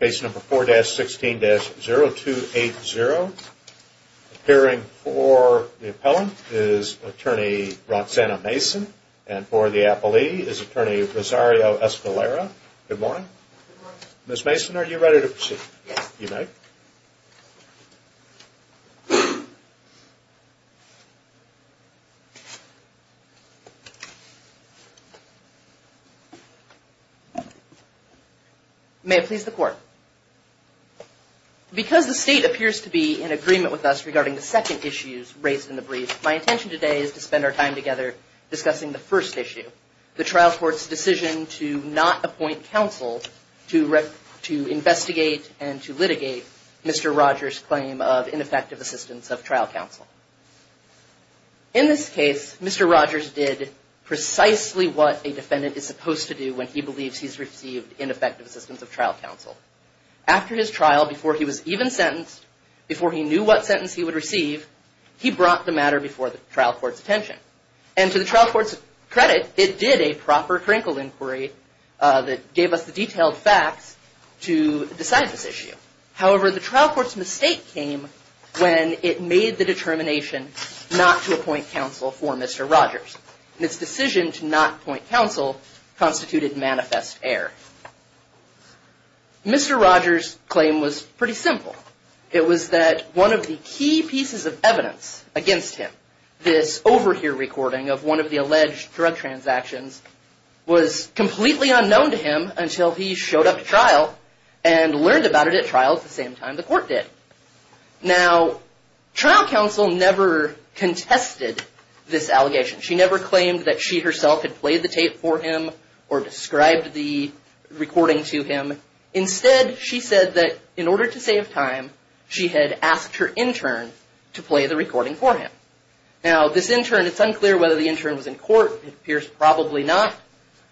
Case number 4-16-0280. Appearing for the appellant is attorney Roxanna Mason and for the appellee is attorney Rosario Escalera. Good morning. Ms. Mason are you ready to proceed? Yes. You may. May it please the court. Because the state appears to be in agreement with us regarding the second issue raised in the brief, my intention today is to spend our time together discussing the first issue. The trial court's decision to not appoint counsel to investigate and to litigate Mr. Rogers' claim of ineffective assistance of trial counsel. In this case, Mr. Rogers did precisely what a defendant is supposed to do when he believes he's received ineffective assistance of trial counsel. After his trial, before he was even sentenced, before he knew what sentence he would receive, he brought the matter before the trial court's attention. And to the trial court's credit, it did a proper crinkle inquiry that gave us the detailed facts to decide this issue. However, the trial court's mistake came when it made the determination not to appoint counsel for Mr. Rogers. And its decision to not appoint counsel constituted manifest error. Mr. Rogers' claim was pretty simple. It was that one of the key pieces of evidence against him, this overhear recording of one of the alleged drug transactions, was completely unknown to him until he showed up to trial and learned about it at trial at the same time the court did. Now, trial counsel never contested this allegation. She never claimed that she herself had played the tape for him or described the recording to him. Instead, she said that in order to save time, she had asked her intern to play the recording for him. Now, this intern, it's unclear whether the intern was in court. It appears probably not.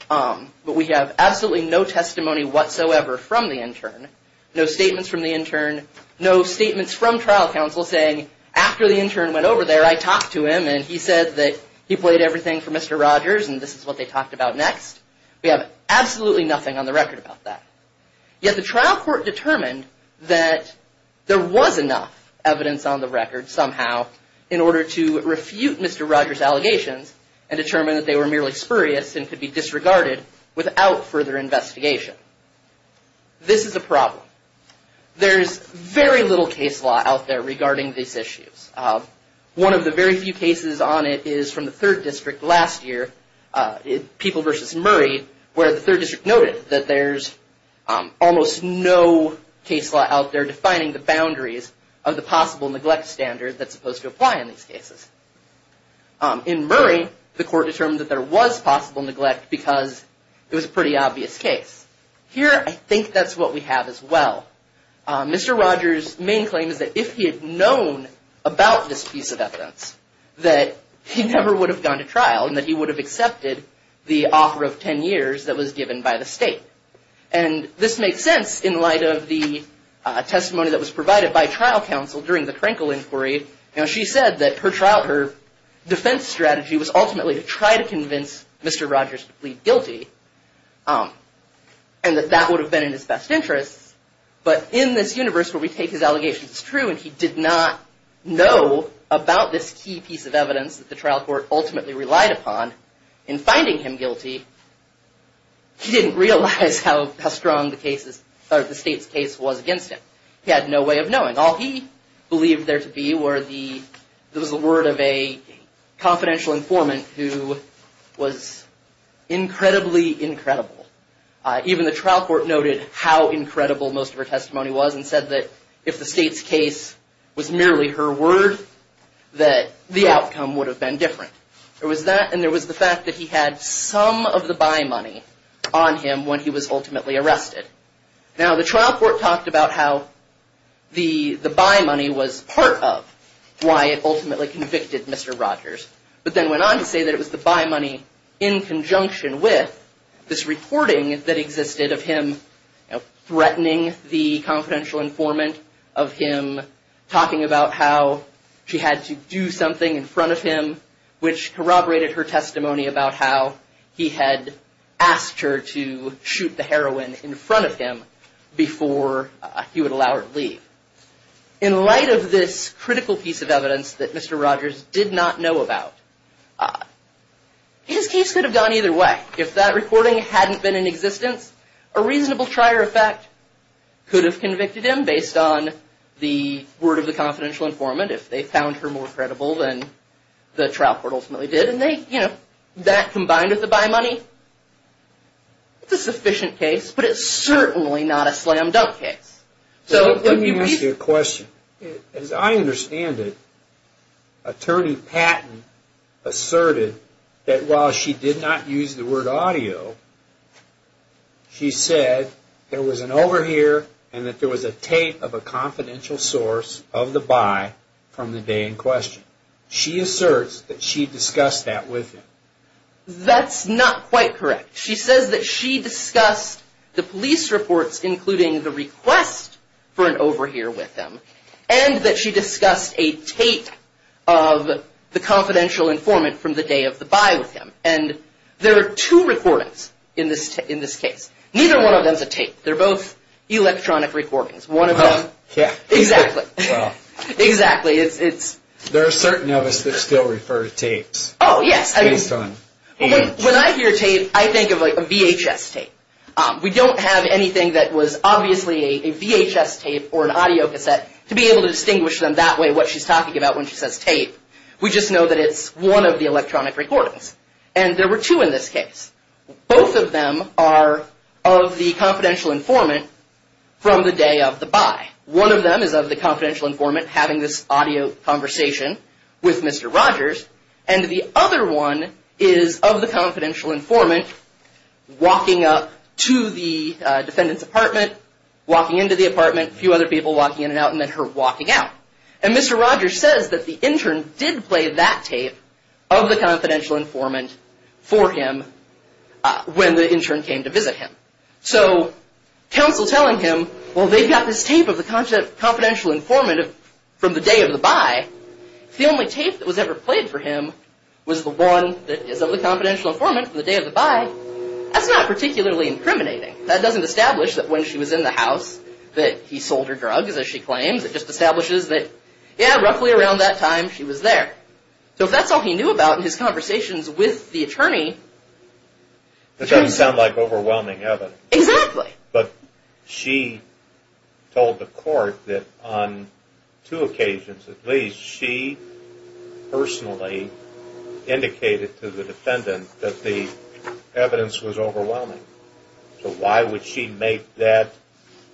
But we have absolutely no testimony whatsoever from the intern, no statements from the intern, no statements from trial counsel saying, after the intern went over there, I talked to him and he said that he played everything for Mr. Rogers and this is what they talked about next. We have absolutely nothing on the record about that. Yet the trial court determined that there was enough evidence on the record somehow in order to refute Mr. Rogers' allegations and determine that they were merely spurious and could be disregarded without further investigation. This is a problem. There's very little case law out there regarding these issues. One of the very few cases on it is from the 3rd District last year, People v. Murray, where the 3rd District noted that there's almost no case law out there defining the boundaries of the possible neglect standard that's supposed to apply in these cases. In Murray, the court determined that there was possible neglect because it was a pretty obvious case. Here, I think that's what we have as well. Mr. Rogers' main claim is that if he had known about this piece of evidence, that he never would have gone to trial and that he would have accepted the offer of 10 years that was given by the state. This makes sense in light of the testimony that was provided by trial counsel during the Crankle inquiry. She said that her defense strategy was ultimately to try to convince Mr. Rogers to plead guilty and that that would have been in his best interest. But in this universe where we take his allegations as true and he did not know about this key piece of evidence that the trial court ultimately relied upon in finding him guilty, he didn't realize how strong the state's case was against him. He had no way of knowing. All he believed there to be was the word of a confidential informant who was incredibly incredible. Even the trial court noted how incredible most of her testimony was and said that if the state's case was merely her word, that the outcome would have been different. There was that and there was the fact that he had some of the buy money on him when he was ultimately arrested. Now, the trial court talked about how the buy money was part of why it ultimately convicted Mr. Rogers, but then went on to say that it was the buy money in conjunction with this reporting that existed of him threatening the confidential informant, of him talking about how she had to do something in front of him, which corroborated her testimony about how he had asked her to shoot the heroine in front of him before he would allow her to leave. In light of this critical piece of evidence that Mr. Rogers did not know about, his case could have gone either way. If that reporting hadn't been in existence, a reasonable trier of fact could have convicted him based on the word of the confidential informant if they found her more credible than the trial court ultimately did. That combined with the buy money, it's a sufficient case, but it's certainly not a slam dunk case. Let me ask you a question. As I understand it, Attorney Patton asserted that while she did not use the word audio, she said there was an overhear and that there was a tape of a confidential source of the buy from the day in question. She asserts that she discussed that with him. That's not quite correct. She says that she discussed the police reports, including the request for an overhear with them, and that she discussed a tape of the confidential informant from the day of the buy with him. And there are two recordings in this case. Neither one of them is a tape. They're both electronic recordings. One of them. Yeah. Exactly. Exactly. There are certain of us that still refer to tapes. Oh, yes. When I hear tape, I think of like a VHS tape. We don't have anything that was obviously a VHS tape or an audio cassette to be able to distinguish them that way, what she's talking about when she says tape. We just know that it's one of the electronic recordings. And there were two in this case. Both of them are of the confidential informant from the day of the buy. One of them is of the confidential informant having this audio conversation with Mr. Rogers, and the other one is of the confidential informant walking up to the defendant's apartment, walking into the apartment, a few other people walking in and out, and then her walking out. And Mr. Rogers says that the intern did play that tape of the confidential informant for him when the intern came to visit him. So counsel telling him, well, they've got this tape of the confidential informant from the day of the buy. If the only tape that was ever played for him was the one that is of the confidential informant from the day of the buy, that's not particularly incriminating. That doesn't establish that when she was in the house that he sold her drugs, as she claims. It just establishes that, yeah, roughly around that time she was there. So if that's all he knew about in his conversations with the attorney. That doesn't sound like overwhelming evidence. Exactly. But she told the court that on two occasions at least, she personally indicated to the defendant that the evidence was overwhelming. So why would she make that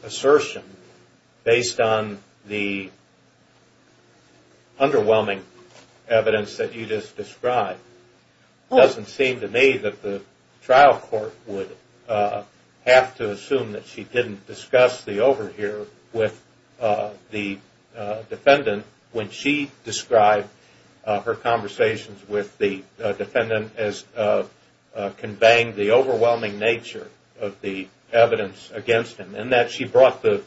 assertion based on the underwhelming evidence that you just described? It doesn't seem to me that the trial court would have to assume that she didn't discuss the overhear with the defendant when she described her conversations with the defendant as conveying the overwhelming nature of the evidence against him. And that she brought the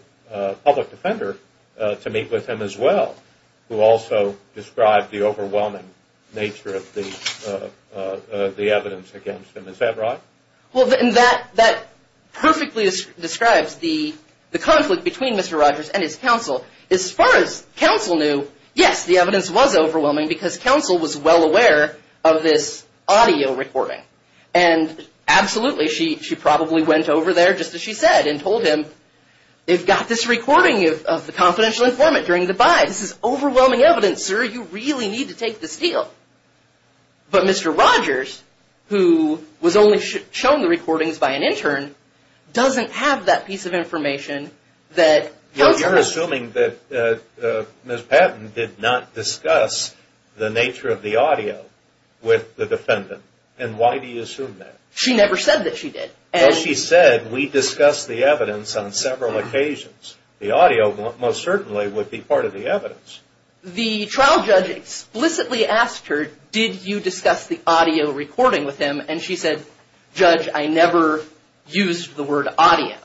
public defender to meet with him as well, who also described the overwhelming nature of the evidence against him. Is that right? Well, that perfectly describes the conflict between Mr. Rogers and his counsel. As far as counsel knew, yes, the evidence was overwhelming because counsel was well aware of this audio recording. And absolutely, she probably went over there, just as she said, and told him, they've got this recording of the confidential informant during the buy. This is overwhelming evidence, sir. You really need to take this deal. But Mr. Rogers, who was only shown the recordings by an intern, doesn't have that piece of information that tells her. You're assuming that Ms. Patton did not discuss the nature of the audio with the defendant. And why do you assume that? She never said that she did. Well, she said, we discussed the evidence on several occasions. The audio most certainly would be part of the evidence. The trial judge explicitly asked her, did you discuss the audio recording with him? And she said, Judge, I never used the word audio.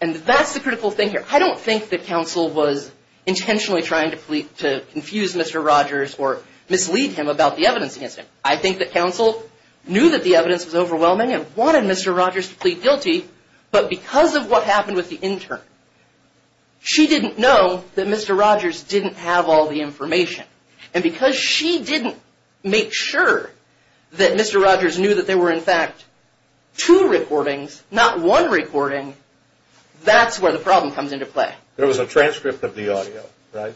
And that's the critical thing here. I don't think that counsel was intentionally trying to confuse Mr. Rogers or mislead him about the evidence against him. I think that counsel knew that the evidence was overwhelming and wanted Mr. Rogers to plead guilty. But because of what happened with the intern, she didn't know that Mr. Rogers didn't have all the information. And because she didn't make sure that Mr. Rogers knew that there were, in fact, two recordings, not one recording, that's where the problem comes into play. There was a transcript of the audio, right?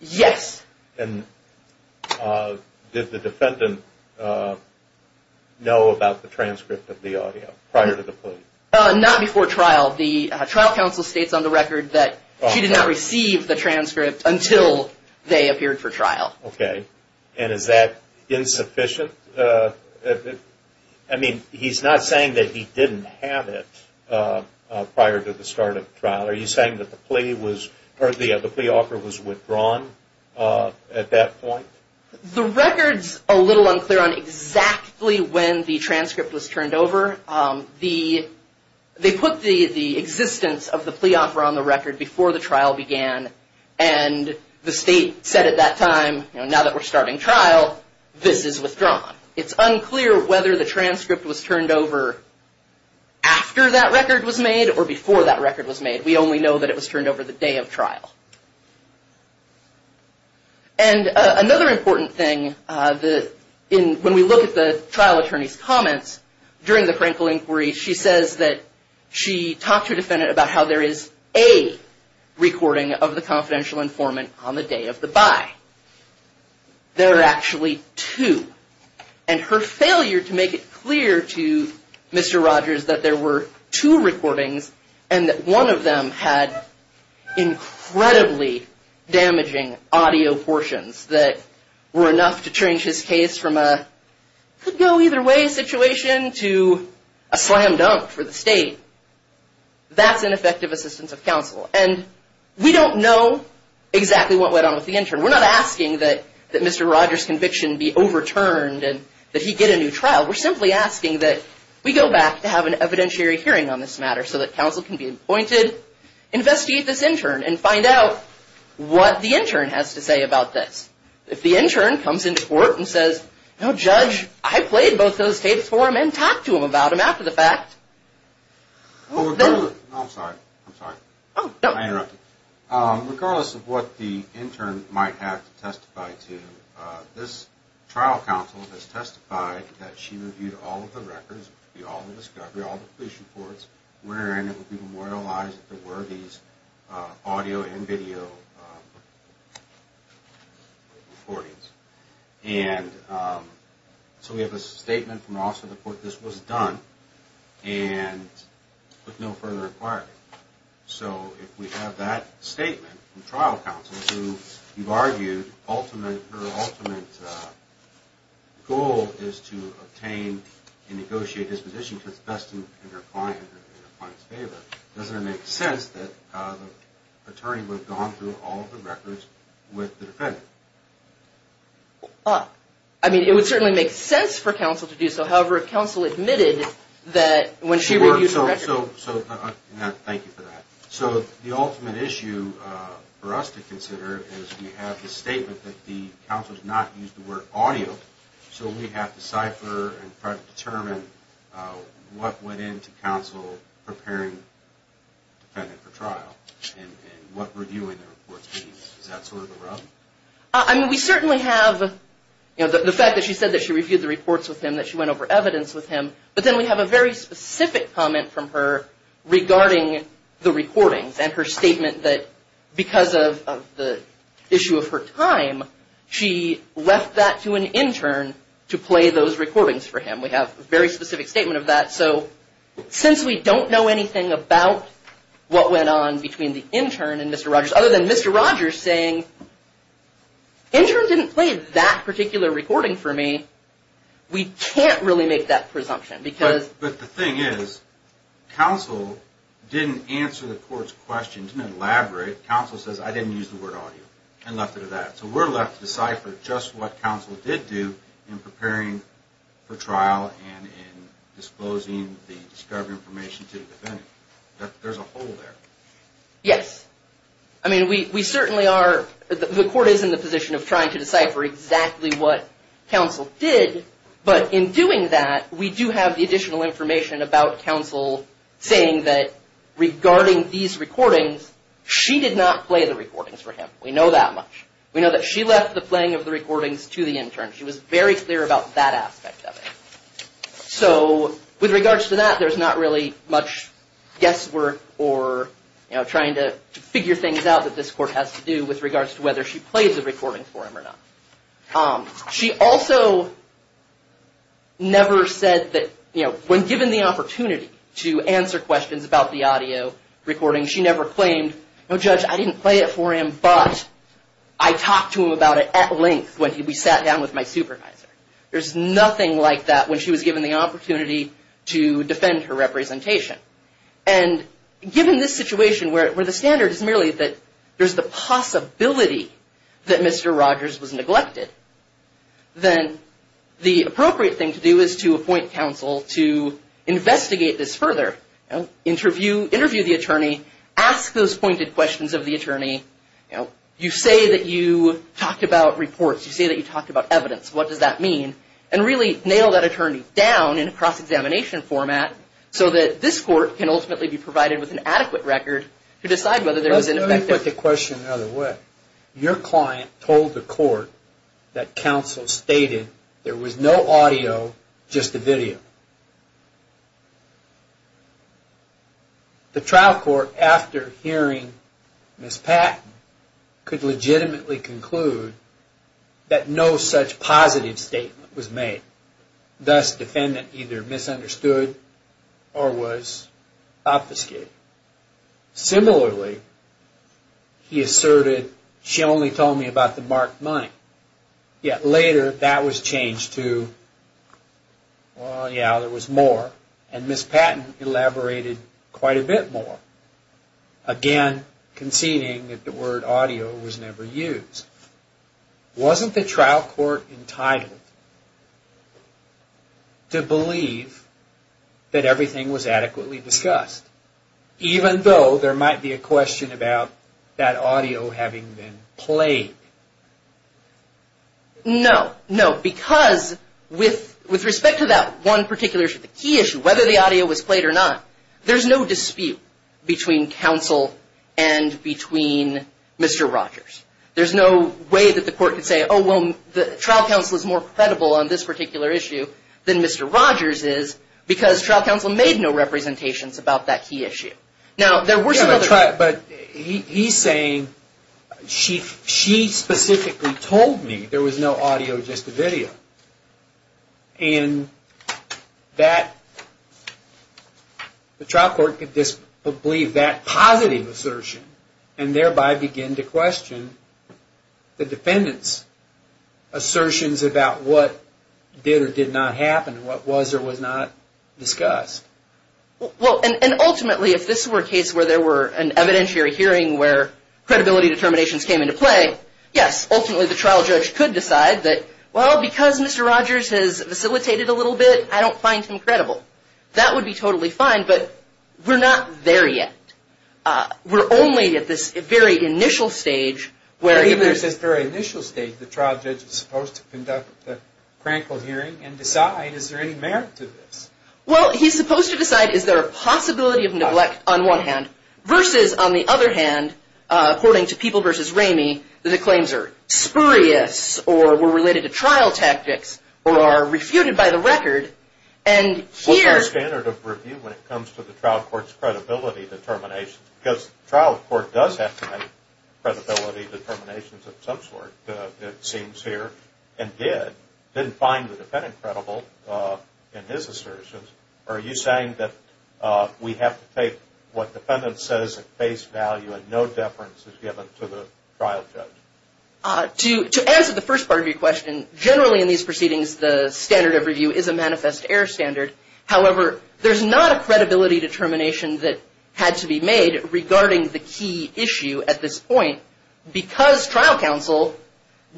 Yes. And did the defendant know about the transcript of the audio prior to the plea? Not before trial. The trial counsel states on the record that she did not receive the transcript until they appeared for trial. Okay. And is that insufficient? I mean, he's not saying that he didn't have it prior to the start of the trial. Are you saying that the plea offer was withdrawn at that point? The record's a little unclear on exactly when the transcript was turned over. They put the existence of the plea offer on the record before the trial began. And the state said at that time, you know, now that we're starting trial, this is withdrawn. It's unclear whether the transcript was turned over after that record was made or before that record was made. We only know that it was turned over the day of trial. And another important thing, when we look at the trial attorney's comments during the Frankl inquiry, she says that she talked to a defendant about how there is a recording of the confidential informant on the day of the buy. There are actually two. And her failure to make it clear to Mr. Rogers that there were two recordings and that one of them had incredibly damaging audio portions that were enough to change his case from a could-go-either-way situation to a slam dunk for the state. That's ineffective assistance of counsel. And we don't know exactly what went on with the intern. We're not asking that Mr. Rogers' conviction be overturned and that he get a new trial. We're simply asking that we go back to have an evidentiary hearing on this matter so that counsel can be appointed, investigate this intern, and find out what the intern has to say about this. If the intern comes into court and says, no, Judge, I played both those tapes for him and talked to him about him after the fact. I'm sorry. I'm sorry. Oh, no. I interrupted. Regardless of what the intern might have to testify to, this trial counsel has testified that she reviewed all of the records, all the discovery, all the police reports, wherein it would be memorialized that there were these audio and video recordings. And so we have a statement from the Office of the Court that this was done and with no further inquiry. So if we have that statement from trial counsel who, you've argued, her ultimate goal is to obtain and negotiate this position because it's best in her client's favor, doesn't it make sense that the attorney would have gone through all of the records with the defendant? I mean, it would certainly make sense for counsel to do so. However, if counsel admitted that when she reviewed the records. Thank you for that. So the ultimate issue for us to consider is we have the statement that the counsel has not used the word audio. So we have to cipher and try to determine what went into counsel preparing the defendant for trial and what reviewing the reports means. Is that sort of the rub? I mean, we certainly have the fact that she said that she reviewed the reports with him, that she went over evidence with him. But then we have a very specific comment from her regarding the recordings and her statement that because of the issue of her time, she left that to an intern to play those recordings for him. We have a very specific statement of that. So since we don't know anything about what went on between the intern and Mr. Rogers, other than Mr. Rogers saying, intern didn't play that particular recording for me, we can't really make that presumption. But the thing is, counsel didn't answer the court's question, didn't elaborate. Counsel says, I didn't use the word audio and left it at that. So we're left to decipher just what counsel did do in preparing for trial and in disclosing the discovery information to the defendant. There's a hole there. Yes. I mean, we certainly are, the court is in the position of trying to decipher exactly what counsel did. But in doing that, we do have the additional information about counsel saying that regarding these recordings, she did not play the recordings for him. We know that much. We know that she left the playing of the recordings to the intern. She was very clear about that aspect of it. So with regards to that, there's not really much guesswork or, you know, trying to figure things out that this court has to do with regards to whether she plays the recordings for him or not. She also never said that, you know, when given the opportunity to answer questions about the audio recordings, she never claimed, no, Judge, I didn't play it for him, but I talked to him about it at length when we sat down with my supervisor. There's nothing like that when she was given the opportunity to defend her representation. And given this situation where the standard is merely that there's the possibility that Mr. Rogers was neglected, then the appropriate thing to do is to appoint counsel to investigate this further. Interview the attorney. Ask those pointed questions of the attorney. You know, you say that you talked about reports. You say that you talked about evidence. What does that mean? And really nail that attorney down in a cross-examination format so that this court can ultimately be provided with an adequate record to decide whether there was an effect. Let me put the question another way. Your client told the court that counsel stated there was no audio, just a video. The trial court, after hearing Ms. Patton, could legitimately conclude that no such positive statement was made. Thus, defendant either misunderstood or was obfuscated. Similarly, he asserted, she only told me about the marked money. Yet later, that was changed to, well, yeah, there was more. And Ms. Patton elaborated quite a bit more. Again, conceding that the word audio was never used. Wasn't the trial court entitled to believe that everything was adequately discussed? Even though there might be a question about that audio having been played. No. No, because with respect to that one particular issue, the key issue, whether the audio was played or not, there's no dispute between counsel and between Mr. Rogers. There's no way that the court could say, oh, well, the trial counsel is more credible on this particular issue than Mr. Rogers is because trial counsel made no representations about that key issue. Now, there were some other... Yeah, but he's saying, she specifically told me there was no audio, just a video. And that the trial court could believe that positive assertion and thereby begin to question the defendant's assertions about what did or did not happen, what was or was not discussed. Well, and ultimately, if this were a case where there were an evidentiary hearing where credibility determinations came into play, yes, ultimately the trial judge could decide that, well, because Mr. Rogers has facilitated a little bit, I don't find him credible. That would be totally fine, but we're not there yet. We're only at this very initial stage where... At this very initial stage, the trial judge is supposed to conduct the crankle hearing and decide, is there any merit to this? Well, he's supposed to decide, is there a possibility of neglect on one hand, versus on the other hand, according to People v. Ramey, the claims are spurious or were related to trial tactics or are refuted by the record, and here... What's the standard of review when it comes to the trial court's credibility determinations? Because the trial court does have to make credibility determinations of some sort, it seems here, and did. Didn't find the defendant credible in his assertions, or are you saying that we have to take what the defendant says at face value and no deference is given to the trial judge? To answer the first part of your question, generally in these proceedings, the standard of review is a manifest error standard. However, there's not a credibility determination that had to be made regarding the key issue at this point, because trial counsel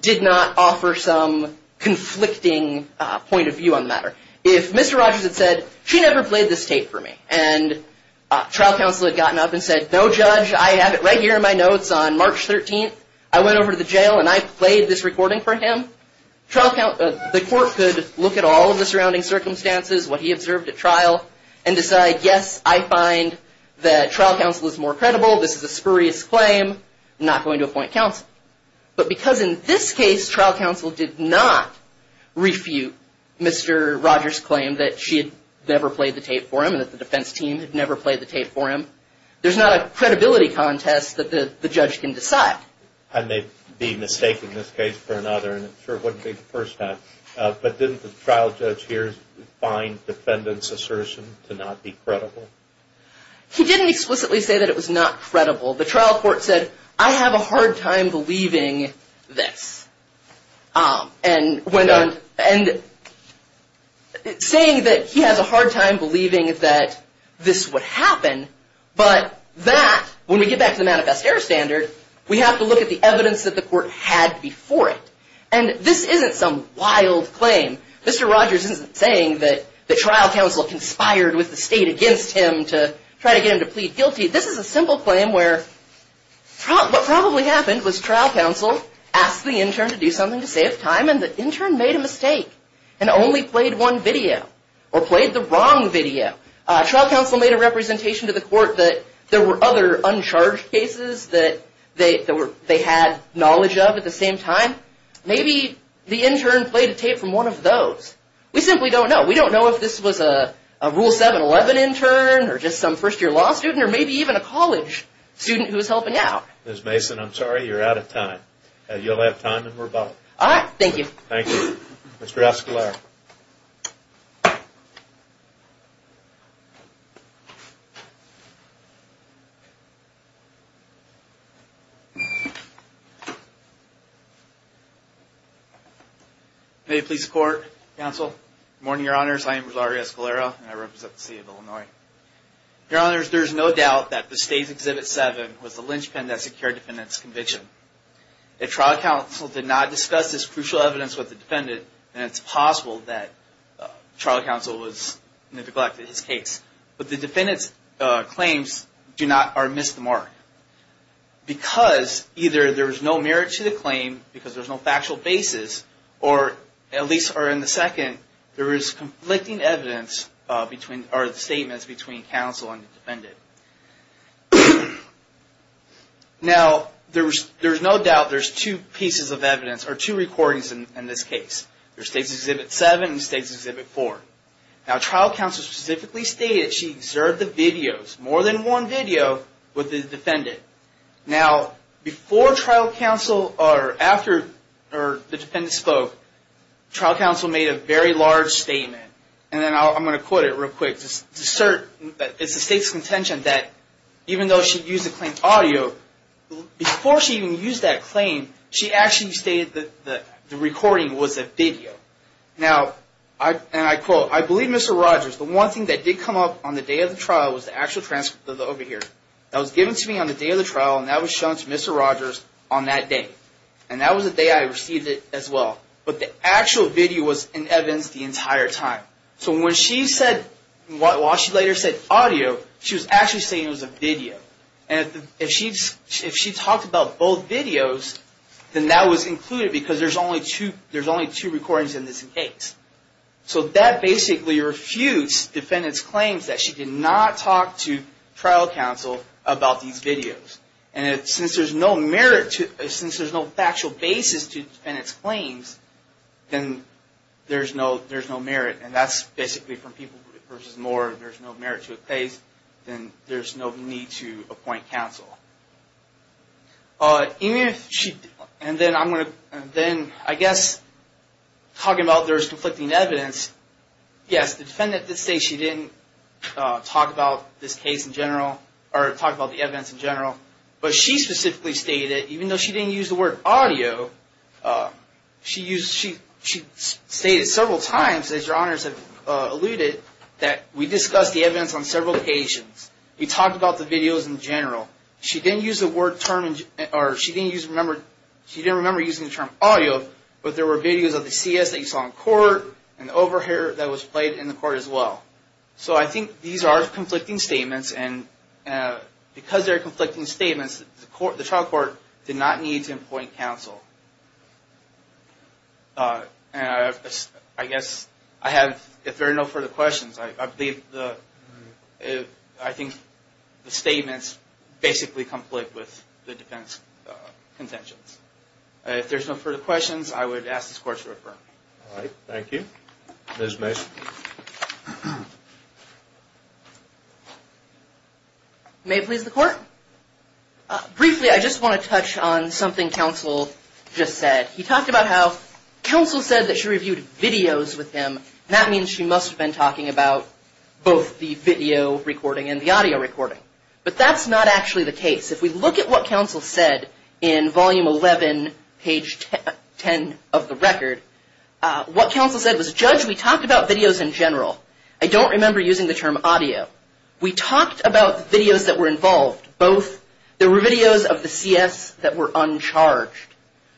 did not offer some conflicting point of view on the matter. If Mr. Rogers had said, she never played this tape for me, and trial counsel had gotten up and said, no judge, I have it right here in my notes on March 13th, I went over to the jail and I played this recording for him, the court could look at all of the surrounding circumstances, what he observed at trial, and decide, yes, I find that trial counsel is more credible, this is a spurious claim, I'm not going to appoint counsel. But because in this case, trial counsel did not refute Mr. Rogers' claim that she had never played the tape for him, and that the defense team had never played the tape for him, there's not a credibility contest that the judge can decide. And they'd be mistaking this case for another, and it sure wouldn't be the first time. But didn't the trial judge here find defendant's assertion to not be credible? He didn't explicitly say that it was not credible. The trial court said, I have a hard time believing this. And saying that he has a hard time believing that this would happen, but that, when we get back to the manifest error standard, we have to look at the evidence that the court had before it. And this isn't some wild claim. Mr. Rogers isn't saying that the trial counsel conspired with the state against him to try to get him to plead guilty. This is a simple claim where what probably happened was trial counsel asked the intern to do something to save time, and the intern made a mistake, and only played one video, or played the wrong video. Trial counsel made a representation to the court that there were other uncharged cases that they had knowledge of at the same time. Maybe the intern played a tape from one of those. We simply don't know. We don't know if this was a Rule 711 intern, or just some first-year law student, or maybe even a college student who was helping out. Ms. Mason, I'm sorry, you're out of time. You'll have time, and we're both. All right. Thank you. Thank you. Mr. Escalero. May it please the Court, Counsel. Good morning, Your Honors. I am Rolando Escalero, and I represent the City of Illinois. Your Honors, there is no doubt that the State's Exhibit 7 was the linchpin that secured the defendant's conviction. If trial counsel did not discuss this crucial evidence with the defendant, then it's possible that trial counsel neglected his case. But the defendant's claims do not miss the mark. Because either there is no merit to the claim, because there's no factual basis, or at least in the second, there is conflicting evidence or statements between counsel and the defendant. Now, there's no doubt there's two pieces of evidence, or two recordings in this case. There's State's Exhibit 7 and State's Exhibit 4. Now, trial counsel specifically stated she observed the videos, more than one video, with the defendant. Now, before trial counsel, or after the defendant spoke, trial counsel made a very large statement. And then I'm going to quote it real quick. To assert that it's the State's contention that even though she used the claim audio, before she even used that claim, she actually stated that the recording was a video. Now, and I quote, I believe, Mr. Rogers, the one thing that did come up on the day of the trial was the actual transcript over here. That was given to me on the day of the trial, and that was shown to Mr. Rogers on that day. And that was the day I received it as well. But the actual video was in evidence the entire time. So when she said, while she later said audio, she was actually saying it was a video. And if she talked about both videos, then that was included because there's only two recordings in this case. So that basically refutes defendant's claims that she did not talk to trial counsel about these videos. And since there's no merit, since there's no factual basis to defendant's claims, then there's no merit. And that's basically from people versus more. If there's no merit to a case, then there's no need to appoint counsel. And then I guess talking about there's conflicting evidence, yes, the defendant did say she didn't talk about this case in general or talk about the evidence in general. But she specifically stated, even though she didn't use the word audio, she stated several times, as your honors have alluded, that we discussed the evidence on several occasions. We talked about the videos in general. She didn't use the word term, or she didn't remember using the term audio, but there were videos of the CS that you saw in court and over here that was played in the court as well. So I think these are conflicting statements, and because they're conflicting statements, the trial court did not need to appoint counsel. And I guess I have, if there are no further questions, I believe the, I think the statements basically conflict with the defense contentions. If there's no further questions, I would ask this Court to refer. All right. Thank you. Ms. Mason. May it please the Court? Briefly, I just want to touch on something counsel just said. He talked about how counsel said that she reviewed videos with him, and that means she must have been talking about both the video recording and the audio recording. But that's not actually the case. If we look at what counsel said in Volume 11, page 10 of the record, what counsel said was, Judge, we talked about videos in general. I don't remember using the term audio. We talked about videos that were involved. Both, there were videos of the CS that were uncharged.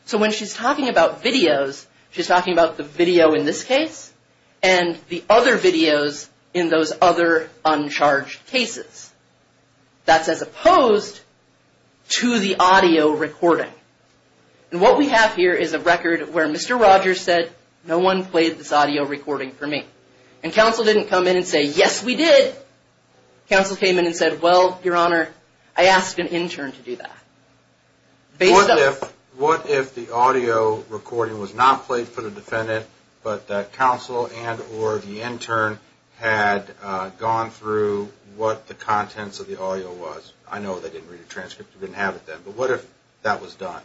So when she's talking about videos, she's talking about the video in this case and the other videos in those other uncharged cases. That's as opposed to the audio recording. And what we have here is a record where Mr. Rogers said, no one played this audio recording for me. And counsel didn't come in and say, yes, we did. Counsel came in and said, well, Your Honor, I asked an intern to do that. What if the audio recording was not played for the defendant, but that counsel and or the intern had gone through what the contents of the audio was? I know they didn't read a transcript. They didn't have it then. But what if that was done?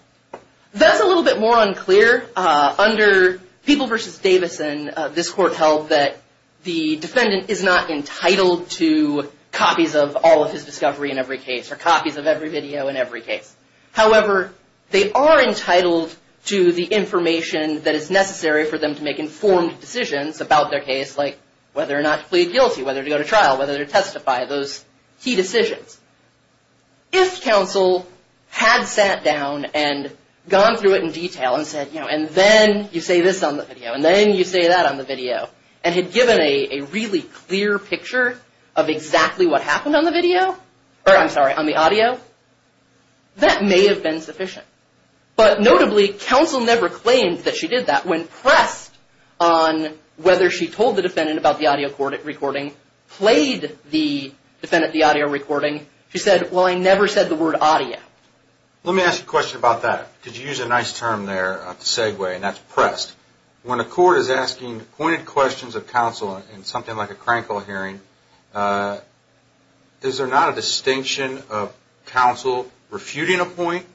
That's a little bit more unclear. Under People v. Davison, this Court held that the defendant is not entitled to copies of all of his discovery in every case or copies of every video in every case. However, they are entitled to the information that is necessary for them to make informed decisions about their case, like whether or not to plead guilty, whether to go to trial, whether to testify, those key decisions. If counsel had sat down and gone through it in detail and said, you know, and then you say this on the video and then you say that on the video and had given a really clear picture of exactly what happened on the video, or I'm sorry, on the audio, that may have been sufficient. But notably, counsel never claimed that she did that. When pressed on whether she told the defendant about the audio recording, played the defendant the audio recording, she said, well, I never said the word audio. Let me ask you a question about that. Could you use a nice term there, a segue, and that's pressed. When a court is asking pointed questions of counsel in something like a crankle hearing, is there not a distinction of counsel refuting a point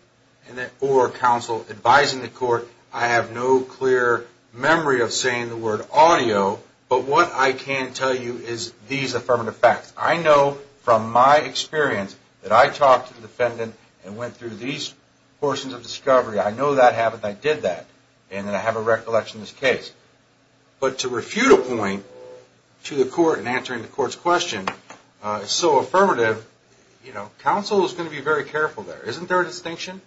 or counsel advising the court, I have no clear memory of saying the word audio, but what I can tell you is these affirmative facts. I know from my experience that I talked to the defendant and went through these portions of discovery. I know that happened, I did that, and then I have a recollection of this case. But to refute a point to the court in answering the court's question is so affirmative, you know, counsel is going to be very careful there. Isn't there a distinction?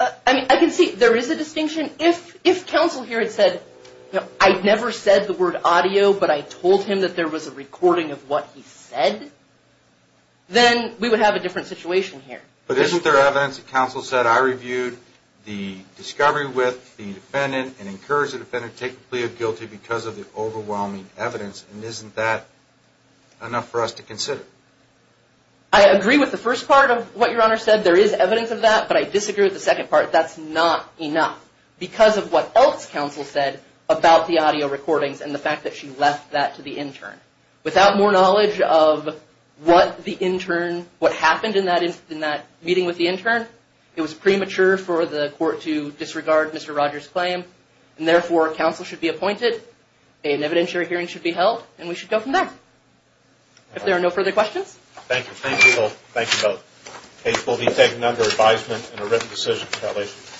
I mean, I can see there is a distinction. If counsel here had said, you know, I never said the word audio, but I told him that there was a recording of what he said, then we would have a different situation here. But isn't there evidence that counsel said, I reviewed the discovery with the defendant and encouraged the defendant to take the plea of guilty because of the overwhelming evidence, and isn't that enough for us to consider? I agree with the first part of what your Honor said. There is evidence of that, but I disagree with the second part. That's not enough because of what else counsel said about the audio recordings and the fact that she left that to the intern. Without more knowledge of what the intern, what happened in that meeting with the intern, it was premature for the court to disregard Mr. Rogers' claim, and therefore counsel should be appointed, an evidentiary hearing should be held, and we should go from there. If there are no further questions. Thank you. Thank you both. Case will be taken under advisement in a written decision. Congratulations.